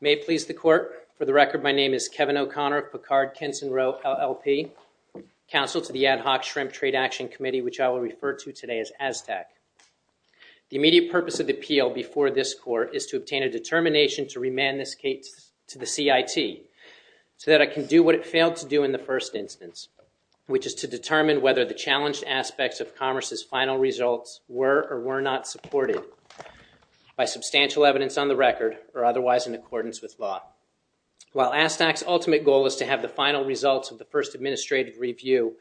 May it please the court, for the record my name is Kevin O'Connor, Picard, Kinson, Rowe, LLP, counsel to the Ad Hoc Shrimp Trade Action Committee which I will refer to today as ASTAC. The immediate purpose of the appeal before this court is to obtain a determination to remand this case to the CIT so that I can do what it failed to do in the first instance, which is to determine whether the challenged aspects of Commerce's final results were or were not supported by substantial evidence on the record or otherwise in accordance with law. While ASTAC's ultimate goal is to have the final results of the first administrative review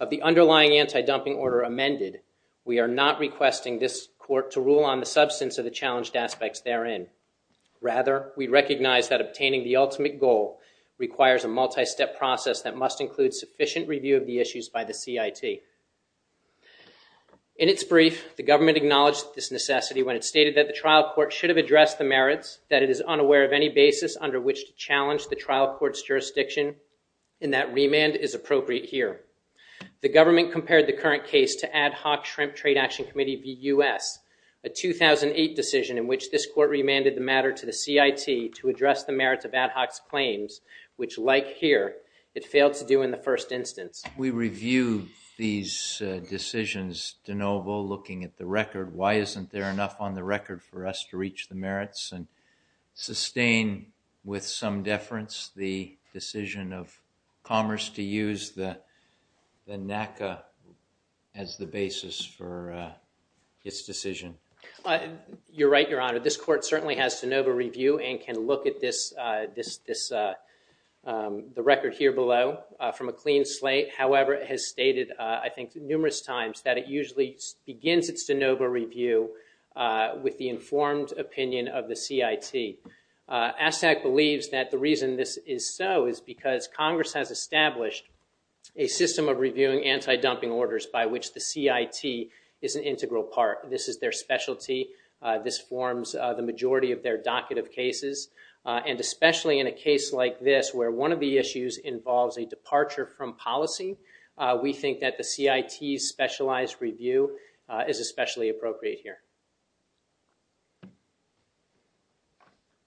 of the underlying anti-dumping order amended, we are not requesting this court to rule on the substance of the challenged aspects therein. Rather, we recognize that obtaining the ultimate goal requires a multi-step process that must include sufficient review of the issues by the CIT. In its brief, the government acknowledged this necessity when it stated that the trial court should have addressed the merits that it is unaware of any basis under which to challenge the trial court's jurisdiction and that remand is appropriate here. The government compared the current case to Ad Hoc Shrimp Trade Action Committee v. US, a 2008 decision in which this court remanded the matter to the CIT to address the merits of Ad Hoc's claims which, like here, it failed to do in the first instance. We review these decisions, de novo, looking at the record. Why isn't there enough on the record for us to reach the merits and sustain with some deference the decision of Commerce to use the NACA as the basis for its decision. You're right, Your Honor. This record here below from a clean slate, however, it has stated, I think, numerous times that it usually begins its de novo review with the informed opinion of the CIT. ASTAC believes that the reason this is so is because Congress has established a system of reviewing anti-dumping orders by which the CIT is an integral part. This is their specialty. This forms the majority of their docket of cases, and especially in a case like this where one of the issues involves a departure from policy, we think that the CIT's specialized review is especially appropriate here.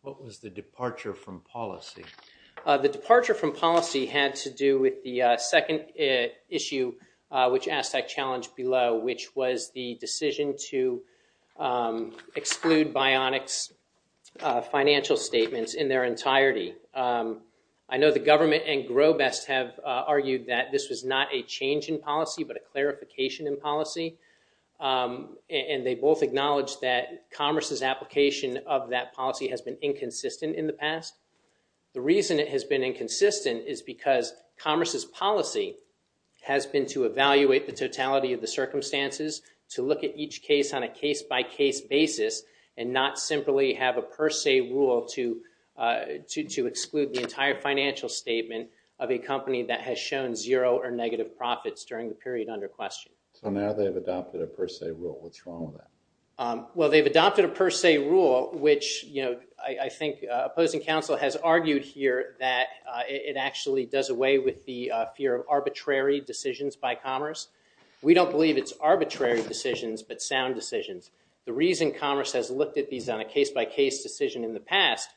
What was the departure from policy? The departure from policy had to do with the second issue which ASTAC challenged below, which was the decision to exclude Bionic's financial statements in their entirety. I know the government and Grobest have argued that this was not a change in policy but a clarification in policy, and they both acknowledged that Commerce's application of that policy has been inconsistent in the past. The reason it has been inconsistent is because Commerce's policy has been to evaluate the totality of the case on a case-by-case basis and not simply have a per se rule to exclude the entire financial statement of a company that has shown zero or negative profits during the period under question. So now they've adopted a per se rule. What's wrong with that? Well, they've adopted a per se rule which, you know, I think opposing counsel has argued here that it actually does away with the fear of arbitrary decisions by Commerce. We don't believe it's arbitrary decisions but sound decisions. The reason Commerce has looked at these on a case-by-case decision in the past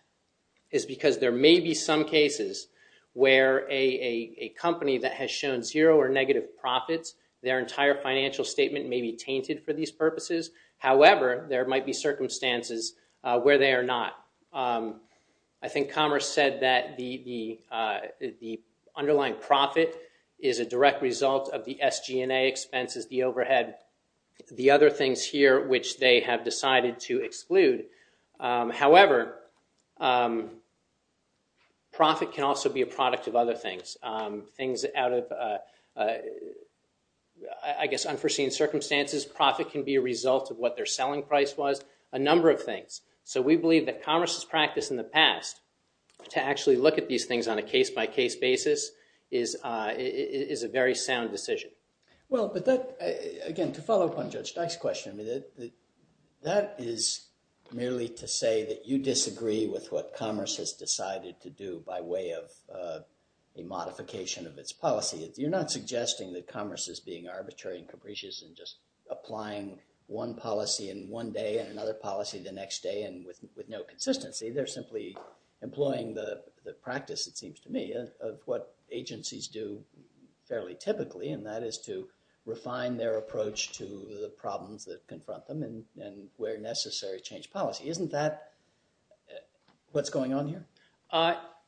is because there may be some cases where a company that has shown zero or negative profits, their entire financial statement may be tainted for these purposes. However, there might be circumstances where they are not. I think Commerce said that the underlying profit is a direct result of the SG&A expenses, the overhead, the other things here which they have decided to exclude. However, profit can also be a product of other things. Things out of, I guess, unforeseen circumstances, profit can be a result of what their selling price was, a number of things. So we believe that Commerce's practice in the past to actually look at these things on a case-by-case basis is a very sound decision. Well, but that, again, to follow up on Judge Dyke's question, that is merely to say that you disagree with what Commerce has decided to do by way of a modification of its policy. You're not suggesting that Commerce is being arbitrary and capricious and just applying one policy in one day and another policy the next day and with no consistency. They're simply employing the practice, it seems to me, of what agencies do fairly typically and that is to refine their approach to the problems that confront them and where necessary change policy. Isn't that what's going on here?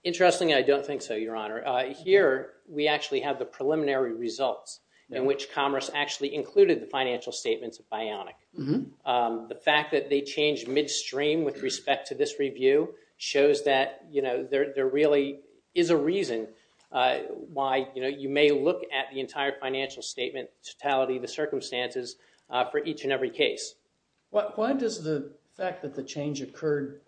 Interesting, I don't think so, Your Honor. Here we actually have the preliminary results in which Commerce actually included the financial statements of Bionic. The fact that they changed midstream with respect to this review shows that, you know, there really is a reason why, you know, you may look at the entire financial statement totality, the circumstances for each and every case. Why does the fact that the change occurred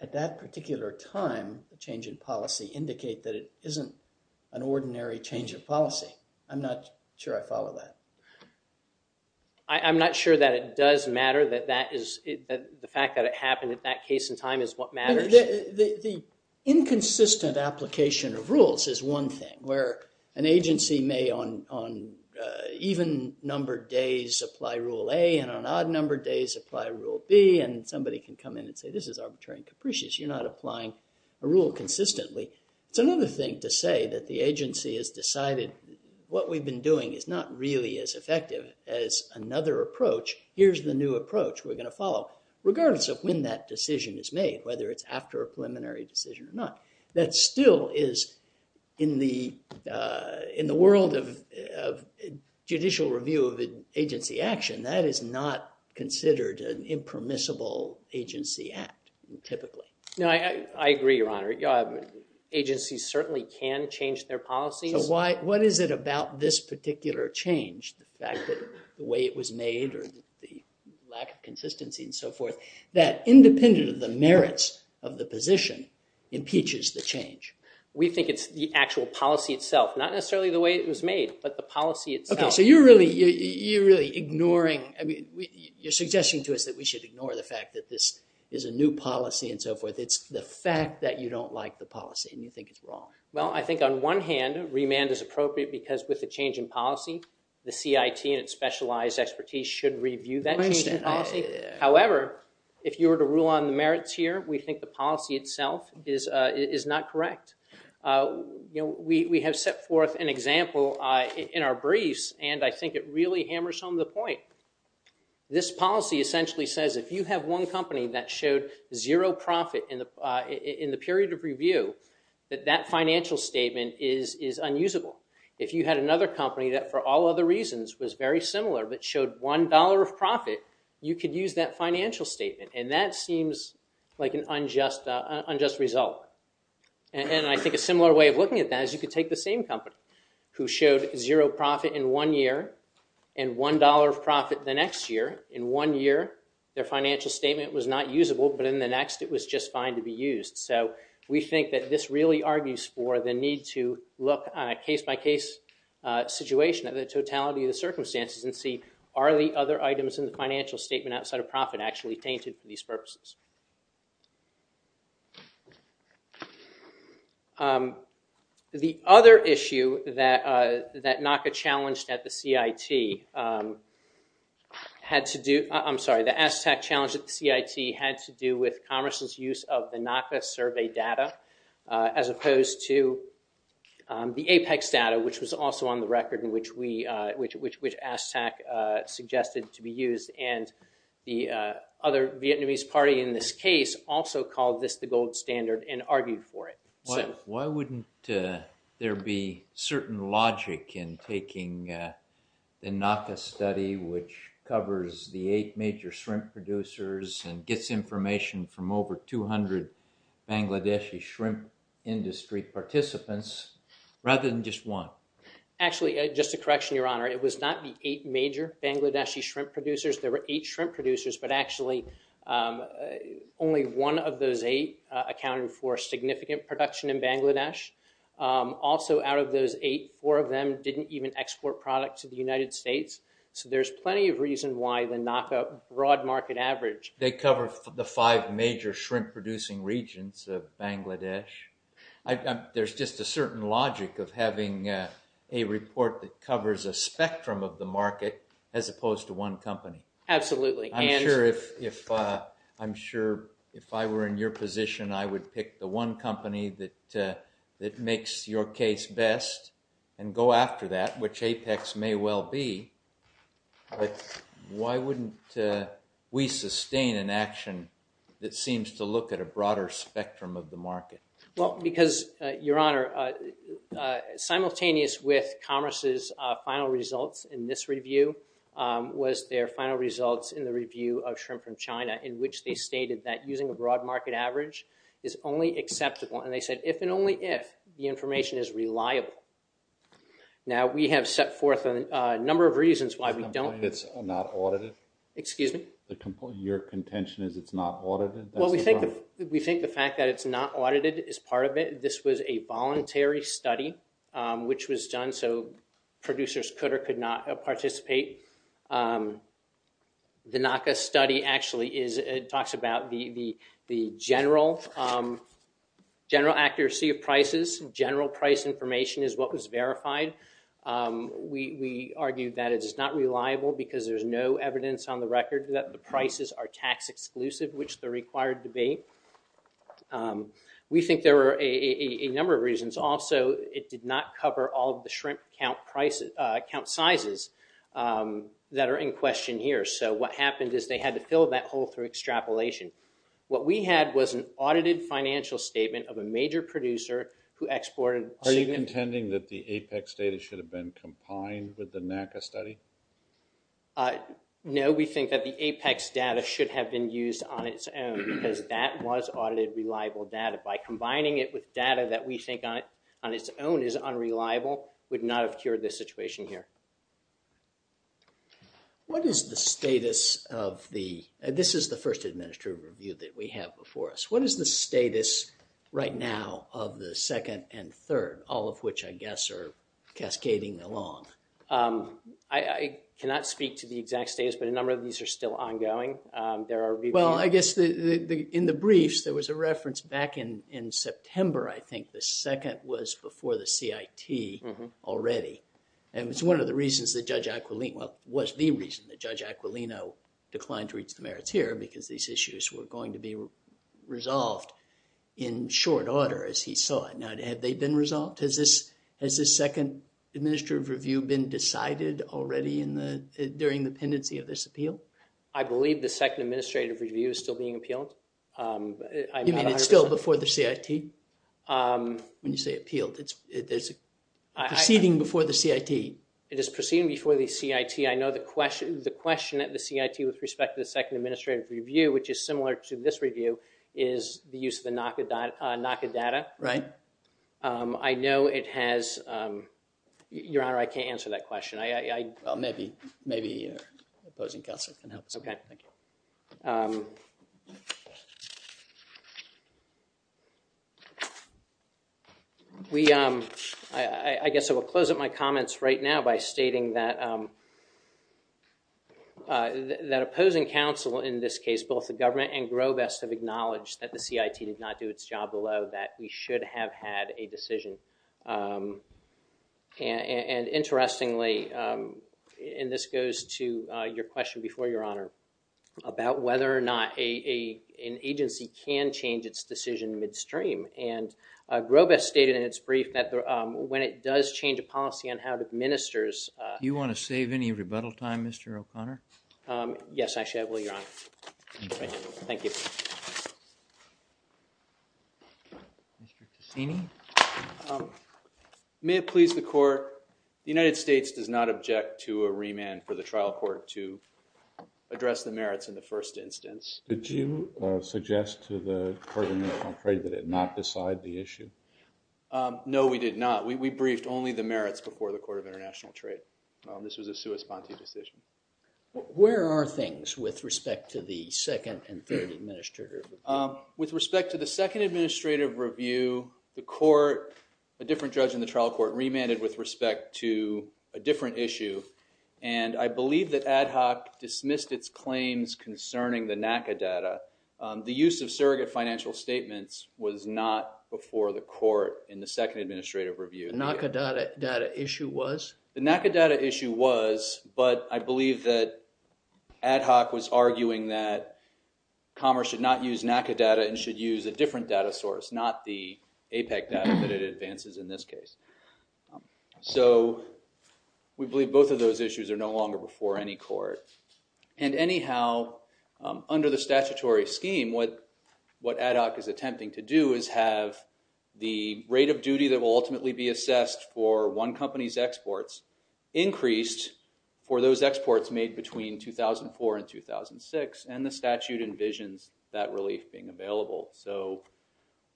at that particular time, the change in policy, indicate that it isn't an ordinary change of policy? I'm not sure I follow that. I'm not sure that it does matter that that is the fact that it happened at that case in time is what matters. The inconsistent application of rules is one thing where an agency may, on even-numbered days, apply Rule A and on odd-numbered days apply Rule B and somebody can come in and say this is arbitrary and capricious. You're not applying a rule consistently. It's another thing to say that the agency has decided what we've been doing is not really as effective as another approach. Here's the new approach we're going to follow, regardless of when that decision is made, whether it's after a preliminary decision or not. That still is, in the world of judicial review of agency action, that is not considered an impermissible agency act, typically. No, I agree, Your Honor. Agencies certainly can change their policies. So what is it about this or the lack of consistency and so forth that, independent of the merits of the position, impeaches the change? We think it's the actual policy itself, not necessarily the way it was made, but the policy itself. Okay, so you're really ignoring, I mean, you're suggesting to us that we should ignore the fact that this is a new policy and so forth. It's the fact that you don't like the policy and you think it's wrong. Well, I think on one hand, remand is appropriate because with a change in policy, the CIT and its specialized expertise should review that change in policy. However, if you were to rule on the merits here, we think the policy itself is not correct. You know, we have set forth an example in our briefs and I think it really hammers home the point. This policy essentially says if you have one company that showed zero profit in the period of one year, and then another company that for all other reasons was very similar but showed one dollar of profit, you could use that financial statement. And that seems like an unjust result. And I think a similar way of looking at that is you could take the same company who showed zero profit in one year and one dollar of profit the next year. In one year, their financial statement was not usable, but in the next it was just fine to be used. So we think that this really argues for the need to look on a case-by-case situation of the totality of the circumstances and see are the other items in the financial statement outside of profit actually tainted for these purposes. The other issue that NACA challenged at the CIT had to do with Congress's use of the NACA survey data as opposed to the APEX data, which was also on the record in which ASTAC suggested to be used. And the other Vietnamese party in this case also called this the gold standard and argued for it. Why wouldn't there be certain logic in taking the NACA study which covers the eight major shrimp producers and gets information from over 200 Bangladeshi shrimp industry participants rather than just one? Actually, just a correction, Your Honor. It was not the eight major Bangladeshi shrimp producers. There were eight shrimp producers, but actually only one of those eight accounted for significant production in Bangladesh. Also out of those eight, four of them didn't even export product to the United States. So there's plenty of reason why the NACA broad market average... They cover the five major shrimp producing regions of Bangladesh. There's just a certain logic of having a report that covers a spectrum of the market as opposed to one company. Absolutely. I'm sure if I were in your position, I would pick the one company that makes your case best and go after that, which APEX may well be. Why wouldn't we sustain an action that seems to look at a broader spectrum of the market? Well, because, Your Honor, simultaneous with Commerce's final results in this review was their final results in the review of shrimp from China in which they stated that using a broad market average is only acceptable and they said if and only if the information is reliable. Now we have set forth a number of reasons why we don't... It's not audited? Excuse me? Your contention is it's not audited? Well, we think the fact that it's not audited is part of it. This was a voluntary study which was done so producers could or could not participate. The NACA study actually talks about the general accuracy of prices. General price information is what was verified. We argue that it is not reliable because there's no evidence on the record that the prices are tax exclusive, which the required debate. We think there were a number of reasons. Also, it did not cover all the shrimp count sizes that are in question here. So what happened is they had to fill that hole through extrapolation. What we had was an audited financial statement of a major producer who exported... Are you contending that the APEX data should have been combined with the NACA study? No, we think that the APEX data should have been used on its own because that was audited reliable data. By combining it with data that we think on its own is unreliable would not have cured this situation here. What is the status of the... This is the first administrative review that we have before us. What is the status right now of the second and third, all of which I guess are cascading along? I cannot speak to the exact status, but a number of these are still ongoing. There are... Well, I guess in the briefs there was a reference back in September, I think. The second was before the CIT already and it's one of the reasons that Judge Aquilino... Well, was the reason that Judge Aquilino declined to reach the merits here because these issues were going to be resolved in short order as he saw it. Now, have they been resolved? Has this second administrative review been decided already in the... during the pendency of this appeal? I believe the second administrative review is still being appealed. You mean it's still before the CIT? When you say appealed, it's proceeding before the CIT. It is proceeding before the CIT. I know the question at the CIT with respect to the second administrative review, which is similar to this review, is the use of the NACA data. Right. I know it has... Your Honor, I can't answer that question. I... Maybe your opposing counsel can help us out. Okay, I guess I will close up my comments right now by stating that... that opposing counsel in this case, both the government and Grobest, have acknowledged that the CIT did not do its job well, that we should have had a decision. And interestingly, and this goes to your question before, Your Honor, about whether or not a... an agency can change its decision midstream. And Grobest stated in its brief that when it does change a policy on how it administers... You want to save any rebuttal time, Mr. O'Connor? Yes, actually, I will, Your Honor. Thank you. May it please the Court, the United States does not object to a remand for the trial court to address the merits in the first instance. Did you suggest to the Court of International Trade that it not decide the issue? No, we did not. We briefed only the merits before the Court of International Trade. This was a sui sponte decision. Where are things with respect to the second and third administrative review? With respect to the second administrative review, the court, a different judge in the trial court, remanded with respect to a different issue. And I believe that Ad Hoc dismissed its claims concerning the financial statements was not before the court in the second administrative review. The NACA data issue was? The NACA data issue was, but I believe that Ad Hoc was arguing that Commerce should not use NACA data and should use a different data source, not the APEC data that it advances in this case. So we believe both of those issues are no longer before any court. And anyhow, under the statutory scheme, what Ad Hoc is attempting to do is have the rate of duty that will ultimately be assessed for one company's exports increased for those exports made between 2004 and 2006, and the statute envisions that relief being available. So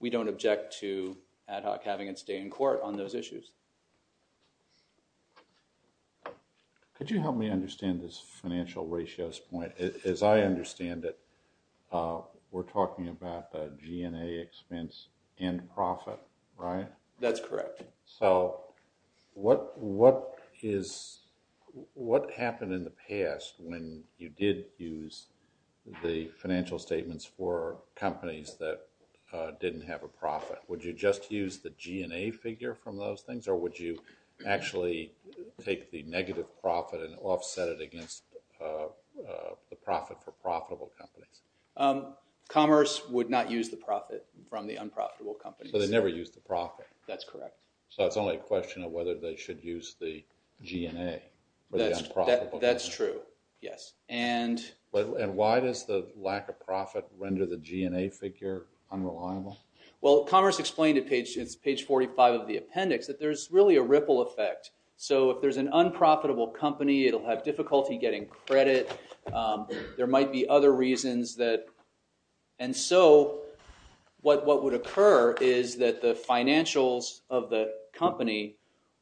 we don't object to Ad Hoc having its day in court on those issues. Could you help me understand this financial ratios point? As I understand it, we're talking about the G&A expense and profit, right? That's correct. So what what is what happened in the past when you did use the financial statements for companies that didn't have a profit? Would you just use the G&A figure from those things, or would you actually take the negative profit and offset it against the profit for profitable companies? Commerce would not use the profit from the unprofitable companies. So they never used the profit? That's correct. So it's only a question of whether they should use the G&A? That's true, yes. And why does the lack of profit render the G&A figure unreliable? Well, Commerce explained at page 45 of the appendix that there's really a ripple effect. So if there's an unprofitable company, it'll have difficulty getting credit. There might be other reasons that, and so what would occur is that the financials of the company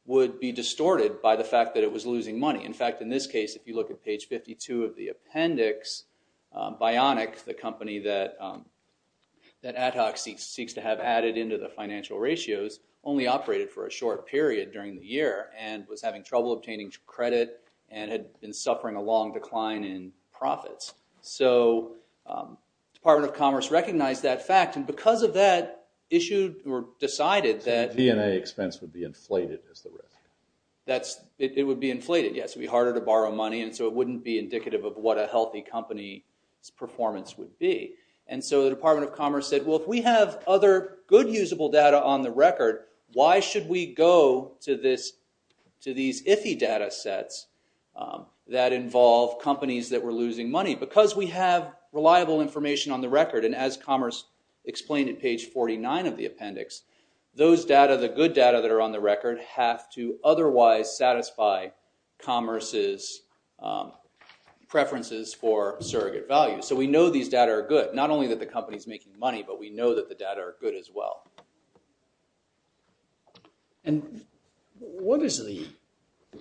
would be distorted by the fact that it was losing money. In fact, in this case, if you look at page 52 of the appendix, Bionic, the company that Ad Hoc seeks to have added into the financial ratios, only operated for a short period during the year and was having trouble obtaining credit and had been suffering a long decline in profits. So Department of Commerce recognized that fact, and because of that, issued or decided that G&A expense would be inflated as the risk. It would be inflated, yes. It would be harder to borrow money, and so it wouldn't be indicative of what a healthy company's performance would be. And so the Department of Commerce said, well, if we have other good usable data on the record, why should we go to these iffy data sets that involve companies that were losing money? Because we have reliable information on the record, and as Commerce explained at page 49 of the appendix, those data, the good data that are on the record, have to otherwise satisfy Commerce's preferences for surrogate value. So we know these data are good. Not only that the company's making money, but we know that the data are good as well. And what is the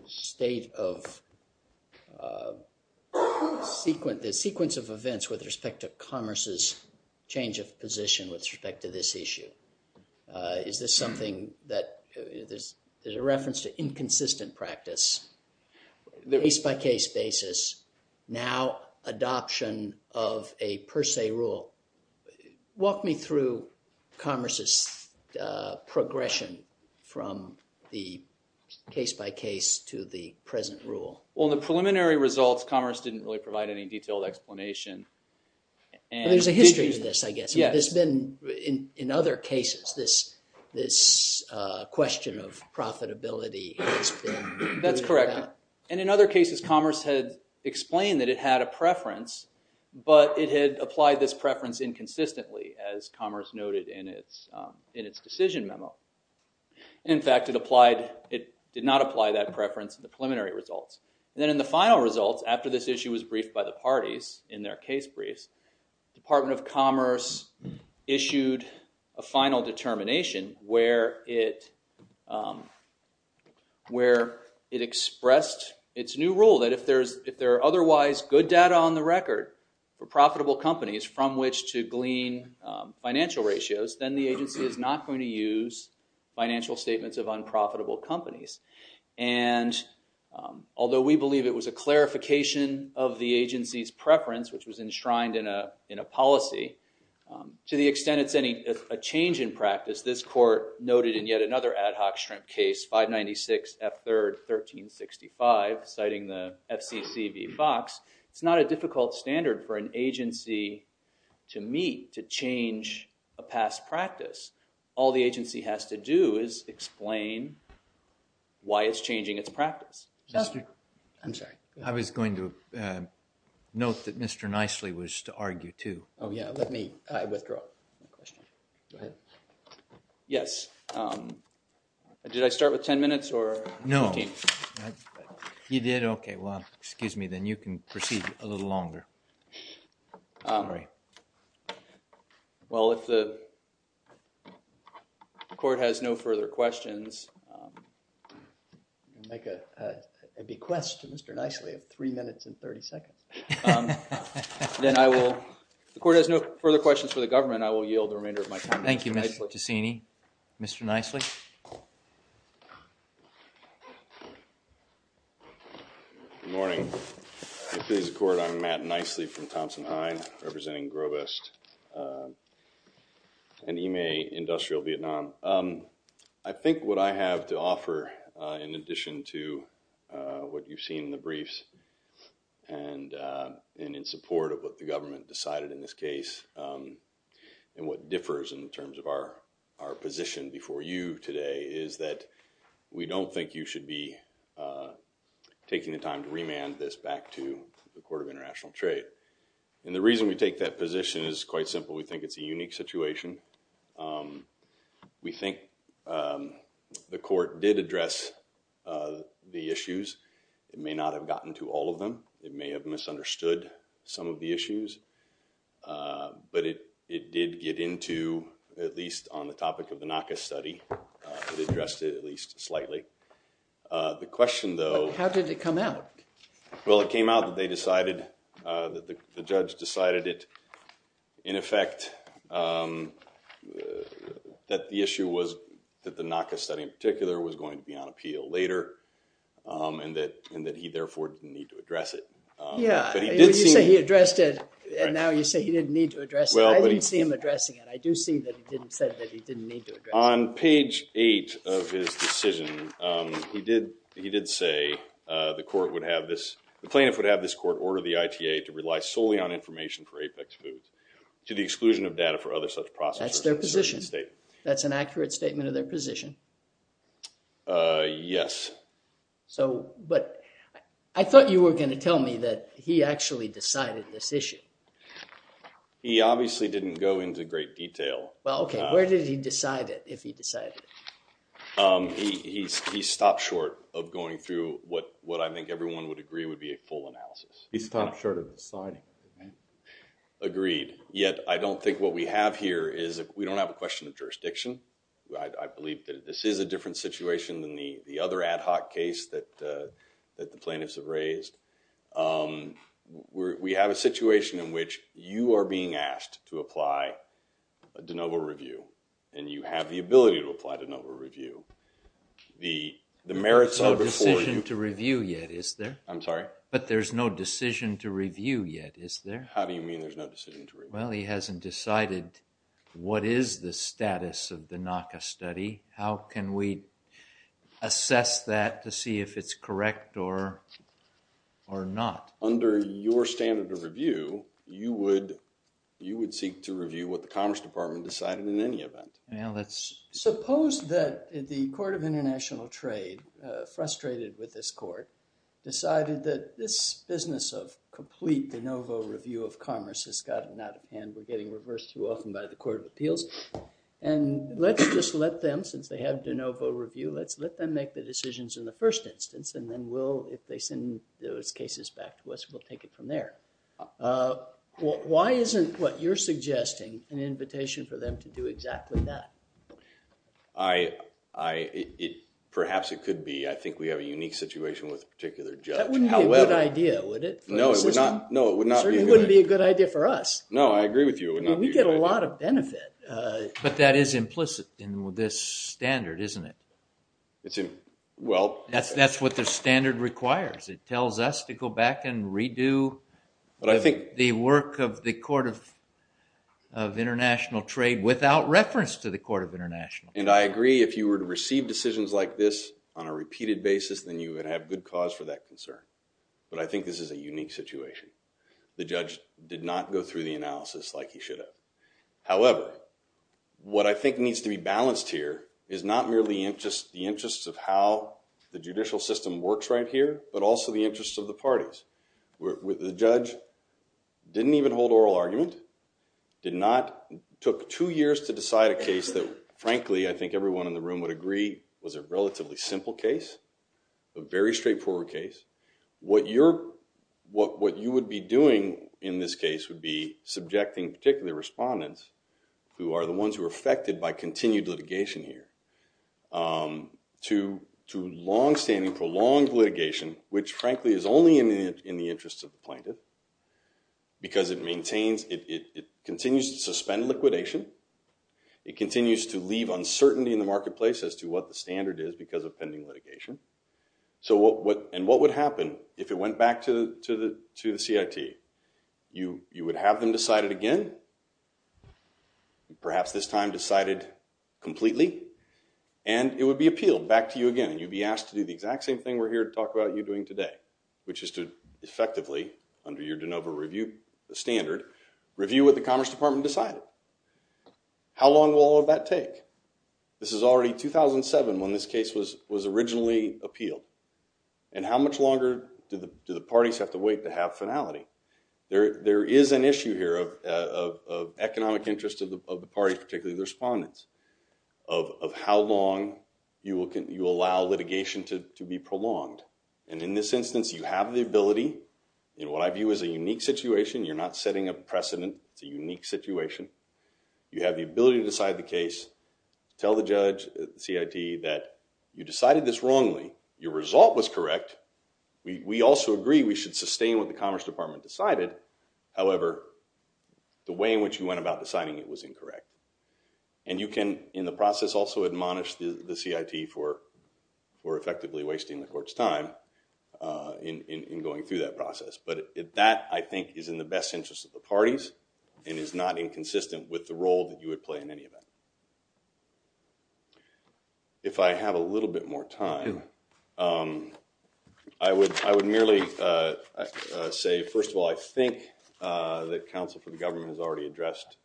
state of the sequence of events with respect to Commerce's change of position with respect to this issue? Is this something that there's a reference to inconsistent practice, the case-by-case Commerce's progression from the case-by-case to the present rule? Well, in the preliminary results, Commerce didn't really provide any detailed explanation. There's a history to this, I guess. There's been, in other cases, this question of profitability. That's correct. And in other cases, Commerce had explained that it had a preference, but it had applied this preference inconsistently, as Commerce noted in its decision memo. In fact, it applied, it did not apply that preference in the preliminary results. Then in the final results, after this issue was briefed by the parties in their case briefs, Department of Commerce issued a final determination where it expressed its new rule that if there are otherwise good data on the glean financial ratios, then the agency is not going to use financial statements of unprofitable companies. And although we believe it was a clarification of the agency's preference, which was enshrined in a policy, to the extent it's any change in practice, this court noted in yet another ad hoc shrimp case, 596 F 3rd 1365, citing the FCC v. Fox, it's not a difficult standard for an agency to meet to change a past practice. All the agency has to do is explain why it's changing its practice. I'm sorry. I was going to note that Mr. Nicely was to argue too. Oh yeah, let me withdraw. Yes, did I start with 10 minutes or? No, you Well, if the court has no further questions, I'll make a bequest to Mr. Nicely of three minutes and 30 seconds. Then I will, if the court has no further questions for the government, I will yield the remainder of my time. Thank you, Mr. Ticini. Mr. Nicely. Good morning. If it is the court, I'm Matt Nicely from Thompson-Hind, representing Grovest and Yme Industrial Vietnam. I think what I have to offer, in addition to what you've seen in the briefs and in support of what the government decided in this case, and what differs in terms of our our position before you today, is that we don't think you should be taking the time to remand this back to the position is quite simple. We think it's a unique situation. We think the court did address the issues. It may not have gotten to all of them. It may have misunderstood some of the issues, but it it did get into, at least on the topic of the NACA study, it addressed it at least slightly. The question though, how did it come out? Well, it came out that they decided, that the judge decided it, in effect, that the issue was that the NACA study in particular was going to be on appeal later, and that he therefore didn't need to address it. Yeah, you say he addressed it, and now you say he didn't need to address it. I didn't see him addressing it. I do see that he said that he didn't need to address it. On page 8 of his decision, he did say the court would have this, the plaintiff would have this court order the ITA to rely solely on information for Apex Foods to the exclusion of data for other such processes. That's their position. That's an accurate statement of their position. Yes. So, but I thought you were going to tell me that he actually decided this issue. He obviously didn't go into great detail. Well, okay, where did he decide it, if he decided it? He stopped short of going through what I think everyone would agree would be a full analysis. He stopped short of deciding. Agreed. Yet, I don't think what we have here is, we don't have a question of jurisdiction. I believe that this is a different situation than the other ad hoc case that the plaintiffs have raised. We have a situation in which you are being asked to apply a de novo review, and you have the ability to apply de novo review. The merits are before you. There's no decision to review yet, is there? I'm sorry? But there's no decision to review yet, is there? How do you mean there's no decision to review? Well, he hasn't decided what is the status of the NACA study. How can we assess that to see if it's correct or not? Under your standard of you would seek to review what the Commerce Department decided in any event. Suppose that the Court of International Trade, frustrated with this court, decided that this business of complete de novo review of commerce has gotten out of hand, we're getting reversed too often by the Court of Appeals, and let's just let them, since they have de novo review, let's let them make the decisions in the first instance, and then we'll, if they send those cases back to us, we'll take it from there. Why isn't what you're suggesting an invitation for them to do exactly that? I, perhaps it could be. I think we have a unique situation with a particular judge. That wouldn't be a good idea, would it? No, it would not be a good idea for us. No, I agree with you. We get a lot of benefit. But that is implicit in this standard, isn't it? It's, well... That's what the standard requires. It tells us to go back and redo... But I think... the work of the Court of International Trade without reference to the Court of International Trade. And I agree, if you were to receive decisions like this on a repeated basis, then you would have good cause for that concern. But I think this is a unique situation. The judge did not go through the analysis like he should have. However, what I think needs to be balanced here is not merely in just the interests of how the judicial system works right here, but also the interests of the parties. The judge didn't even hold oral argument, did not... took two years to decide a case that, frankly, I think everyone in the room would agree was a relatively simple case, a very straightforward case. What you're... what you would be doing in this case would be subjecting particular respondents, who are the ones who are affected by litigation, which frankly is only in the interests of the plaintiff, because it maintains... it continues to suspend liquidation. It continues to leave uncertainty in the marketplace as to what the standard is because of pending litigation. So what... and what would happen if it went back to the... to the CIT? You would have them decided again, perhaps this time decided completely, and it would be appealed back to you again. You'd be asked to do the exact same thing we're here to talk about you doing today, which is to effectively, under your de novo review standard, review what the Commerce Department decided. How long will all of that take? This is already 2007 when this case was was originally appealed, and how much longer do the parties have to wait to have finality? There is an issue here of economic interest of the parties, particularly the respondents, of how long you will allow litigation to be prolonged. And in this instance, you have the ability, in what I view as a unique situation, you're not setting a precedent. It's a unique situation. You have the ability to decide the case, tell the judge, the CIT, that you decided this wrongly. Your result was correct. We also agree we should sustain what the Commerce Department decided. However, the way in which you went about deciding it was incorrect. And you can, in the process, also admonish the CIT for effectively wasting the court's time in going through that process. But that, I think, is in the best interest of the parties and is not inconsistent with the role that you would play in any event. If I have a little bit more time, I would I would merely say, first of all, I think that counsel for the government has already addressed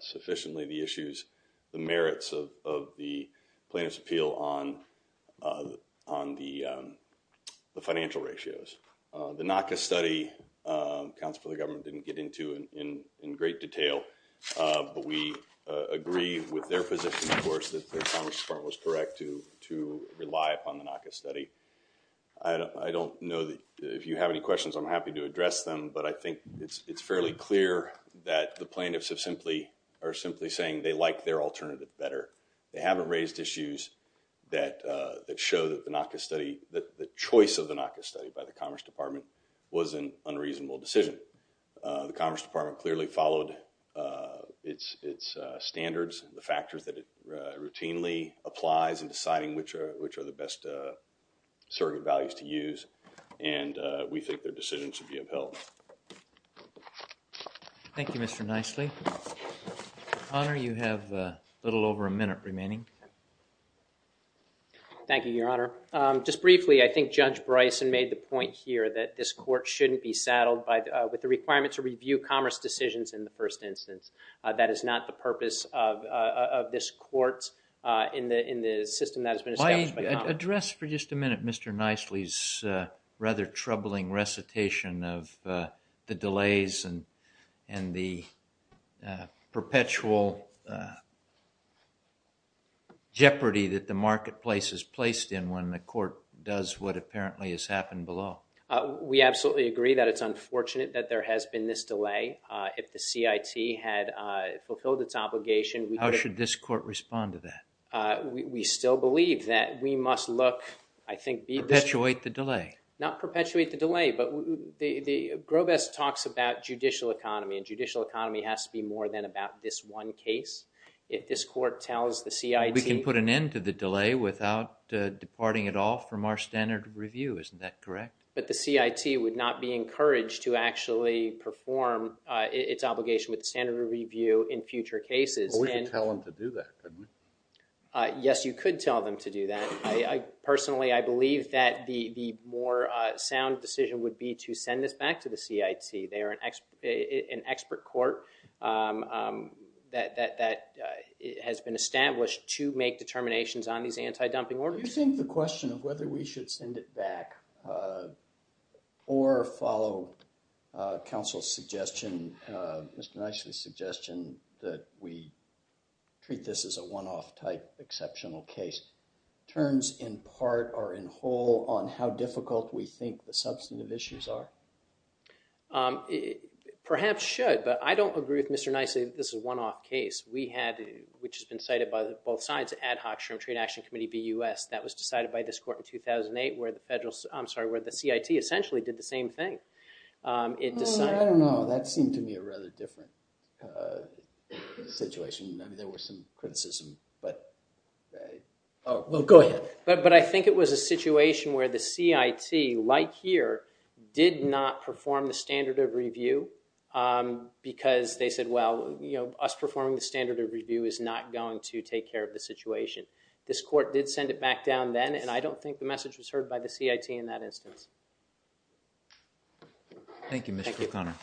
sufficiently the issues, the merits of the plaintiff's on the financial ratios. The NACA study, counsel for the government didn't get into in great detail, but we agree with their position, of course, that the Commerce Department was correct to rely upon the NACA study. I don't know that if you have any questions, I'm happy to address them, but I think it's fairly clear that the plaintiffs have simply, are simply saying they like their that show that the NACA study, that the choice of the NACA study by the Commerce Department was an unreasonable decision. The Commerce Department clearly followed its standards, the factors that it routinely applies in deciding which are the best surrogate values to use, and we think their decision should be upheld. Thank you, Mr. Nicely. Honor, you have a little over a minute remaining. Thank you, Your Honor. Just briefly, I think Judge Bryson made the point here that this court shouldn't be saddled by, with the requirement to review commerce decisions in the first instance. That is not the purpose of this court in the, in the system that has been established. I address for just a minute Mr. Nicely's rather troubling recitation of the delays and, and the perpetual jeopardy that the marketplace is placed in when the court does what apparently has happened below. We absolutely agree that it's unfortunate that there has been this delay. If the CIT had fulfilled its obligation... How should this court respond to that? We still believe that we must look, I think... Perpetuate the delay. Not perpetuate the delay, but Groves talks about judicial economy, and judicial economy has to be more than about this one case. If this court tells the CIT... We can put an end to the delay without departing at all from our standard review, isn't that correct? But the CIT would not be encouraged to actually perform its obligation with the standard review in future cases. We could tell them to do that, couldn't we? Yes, you could tell them to do that. I personally, I believe that the, the more sound decision would be to send this back to the CIT. They are an expert, an expert court that, that, that has been established to make determinations on these anti-dumping orders. Do you think the question of whether we should send it back or follow counsel's suggestion, Mr. Nicely's suggestion, that we treat this as a one-off type exceptional case, turns in part or in whole on how difficult we think the substantive issues are? Perhaps should, but I don't agree with Mr. Nicely that this is a one-off case. We had, which has been cited by both sides, Ad Hoc Sherm Trade Action Committee, BUS. That was decided by this court in 2008 where the federal, I'm sorry, where the CIT essentially did the same thing. It decided... I don't know, that seemed to me a rather different situation. There was some criticism, but... Oh, well, go ahead. But, but I think it was a situation where the CIT, like here, did not perform the standard of review because they said, well, you know, us performing the standard of review is not going to take care of the situation. This court did send it back down then, and I don't think the message was heard by the CIT in that instance. Thank you, Mr. O'Connor.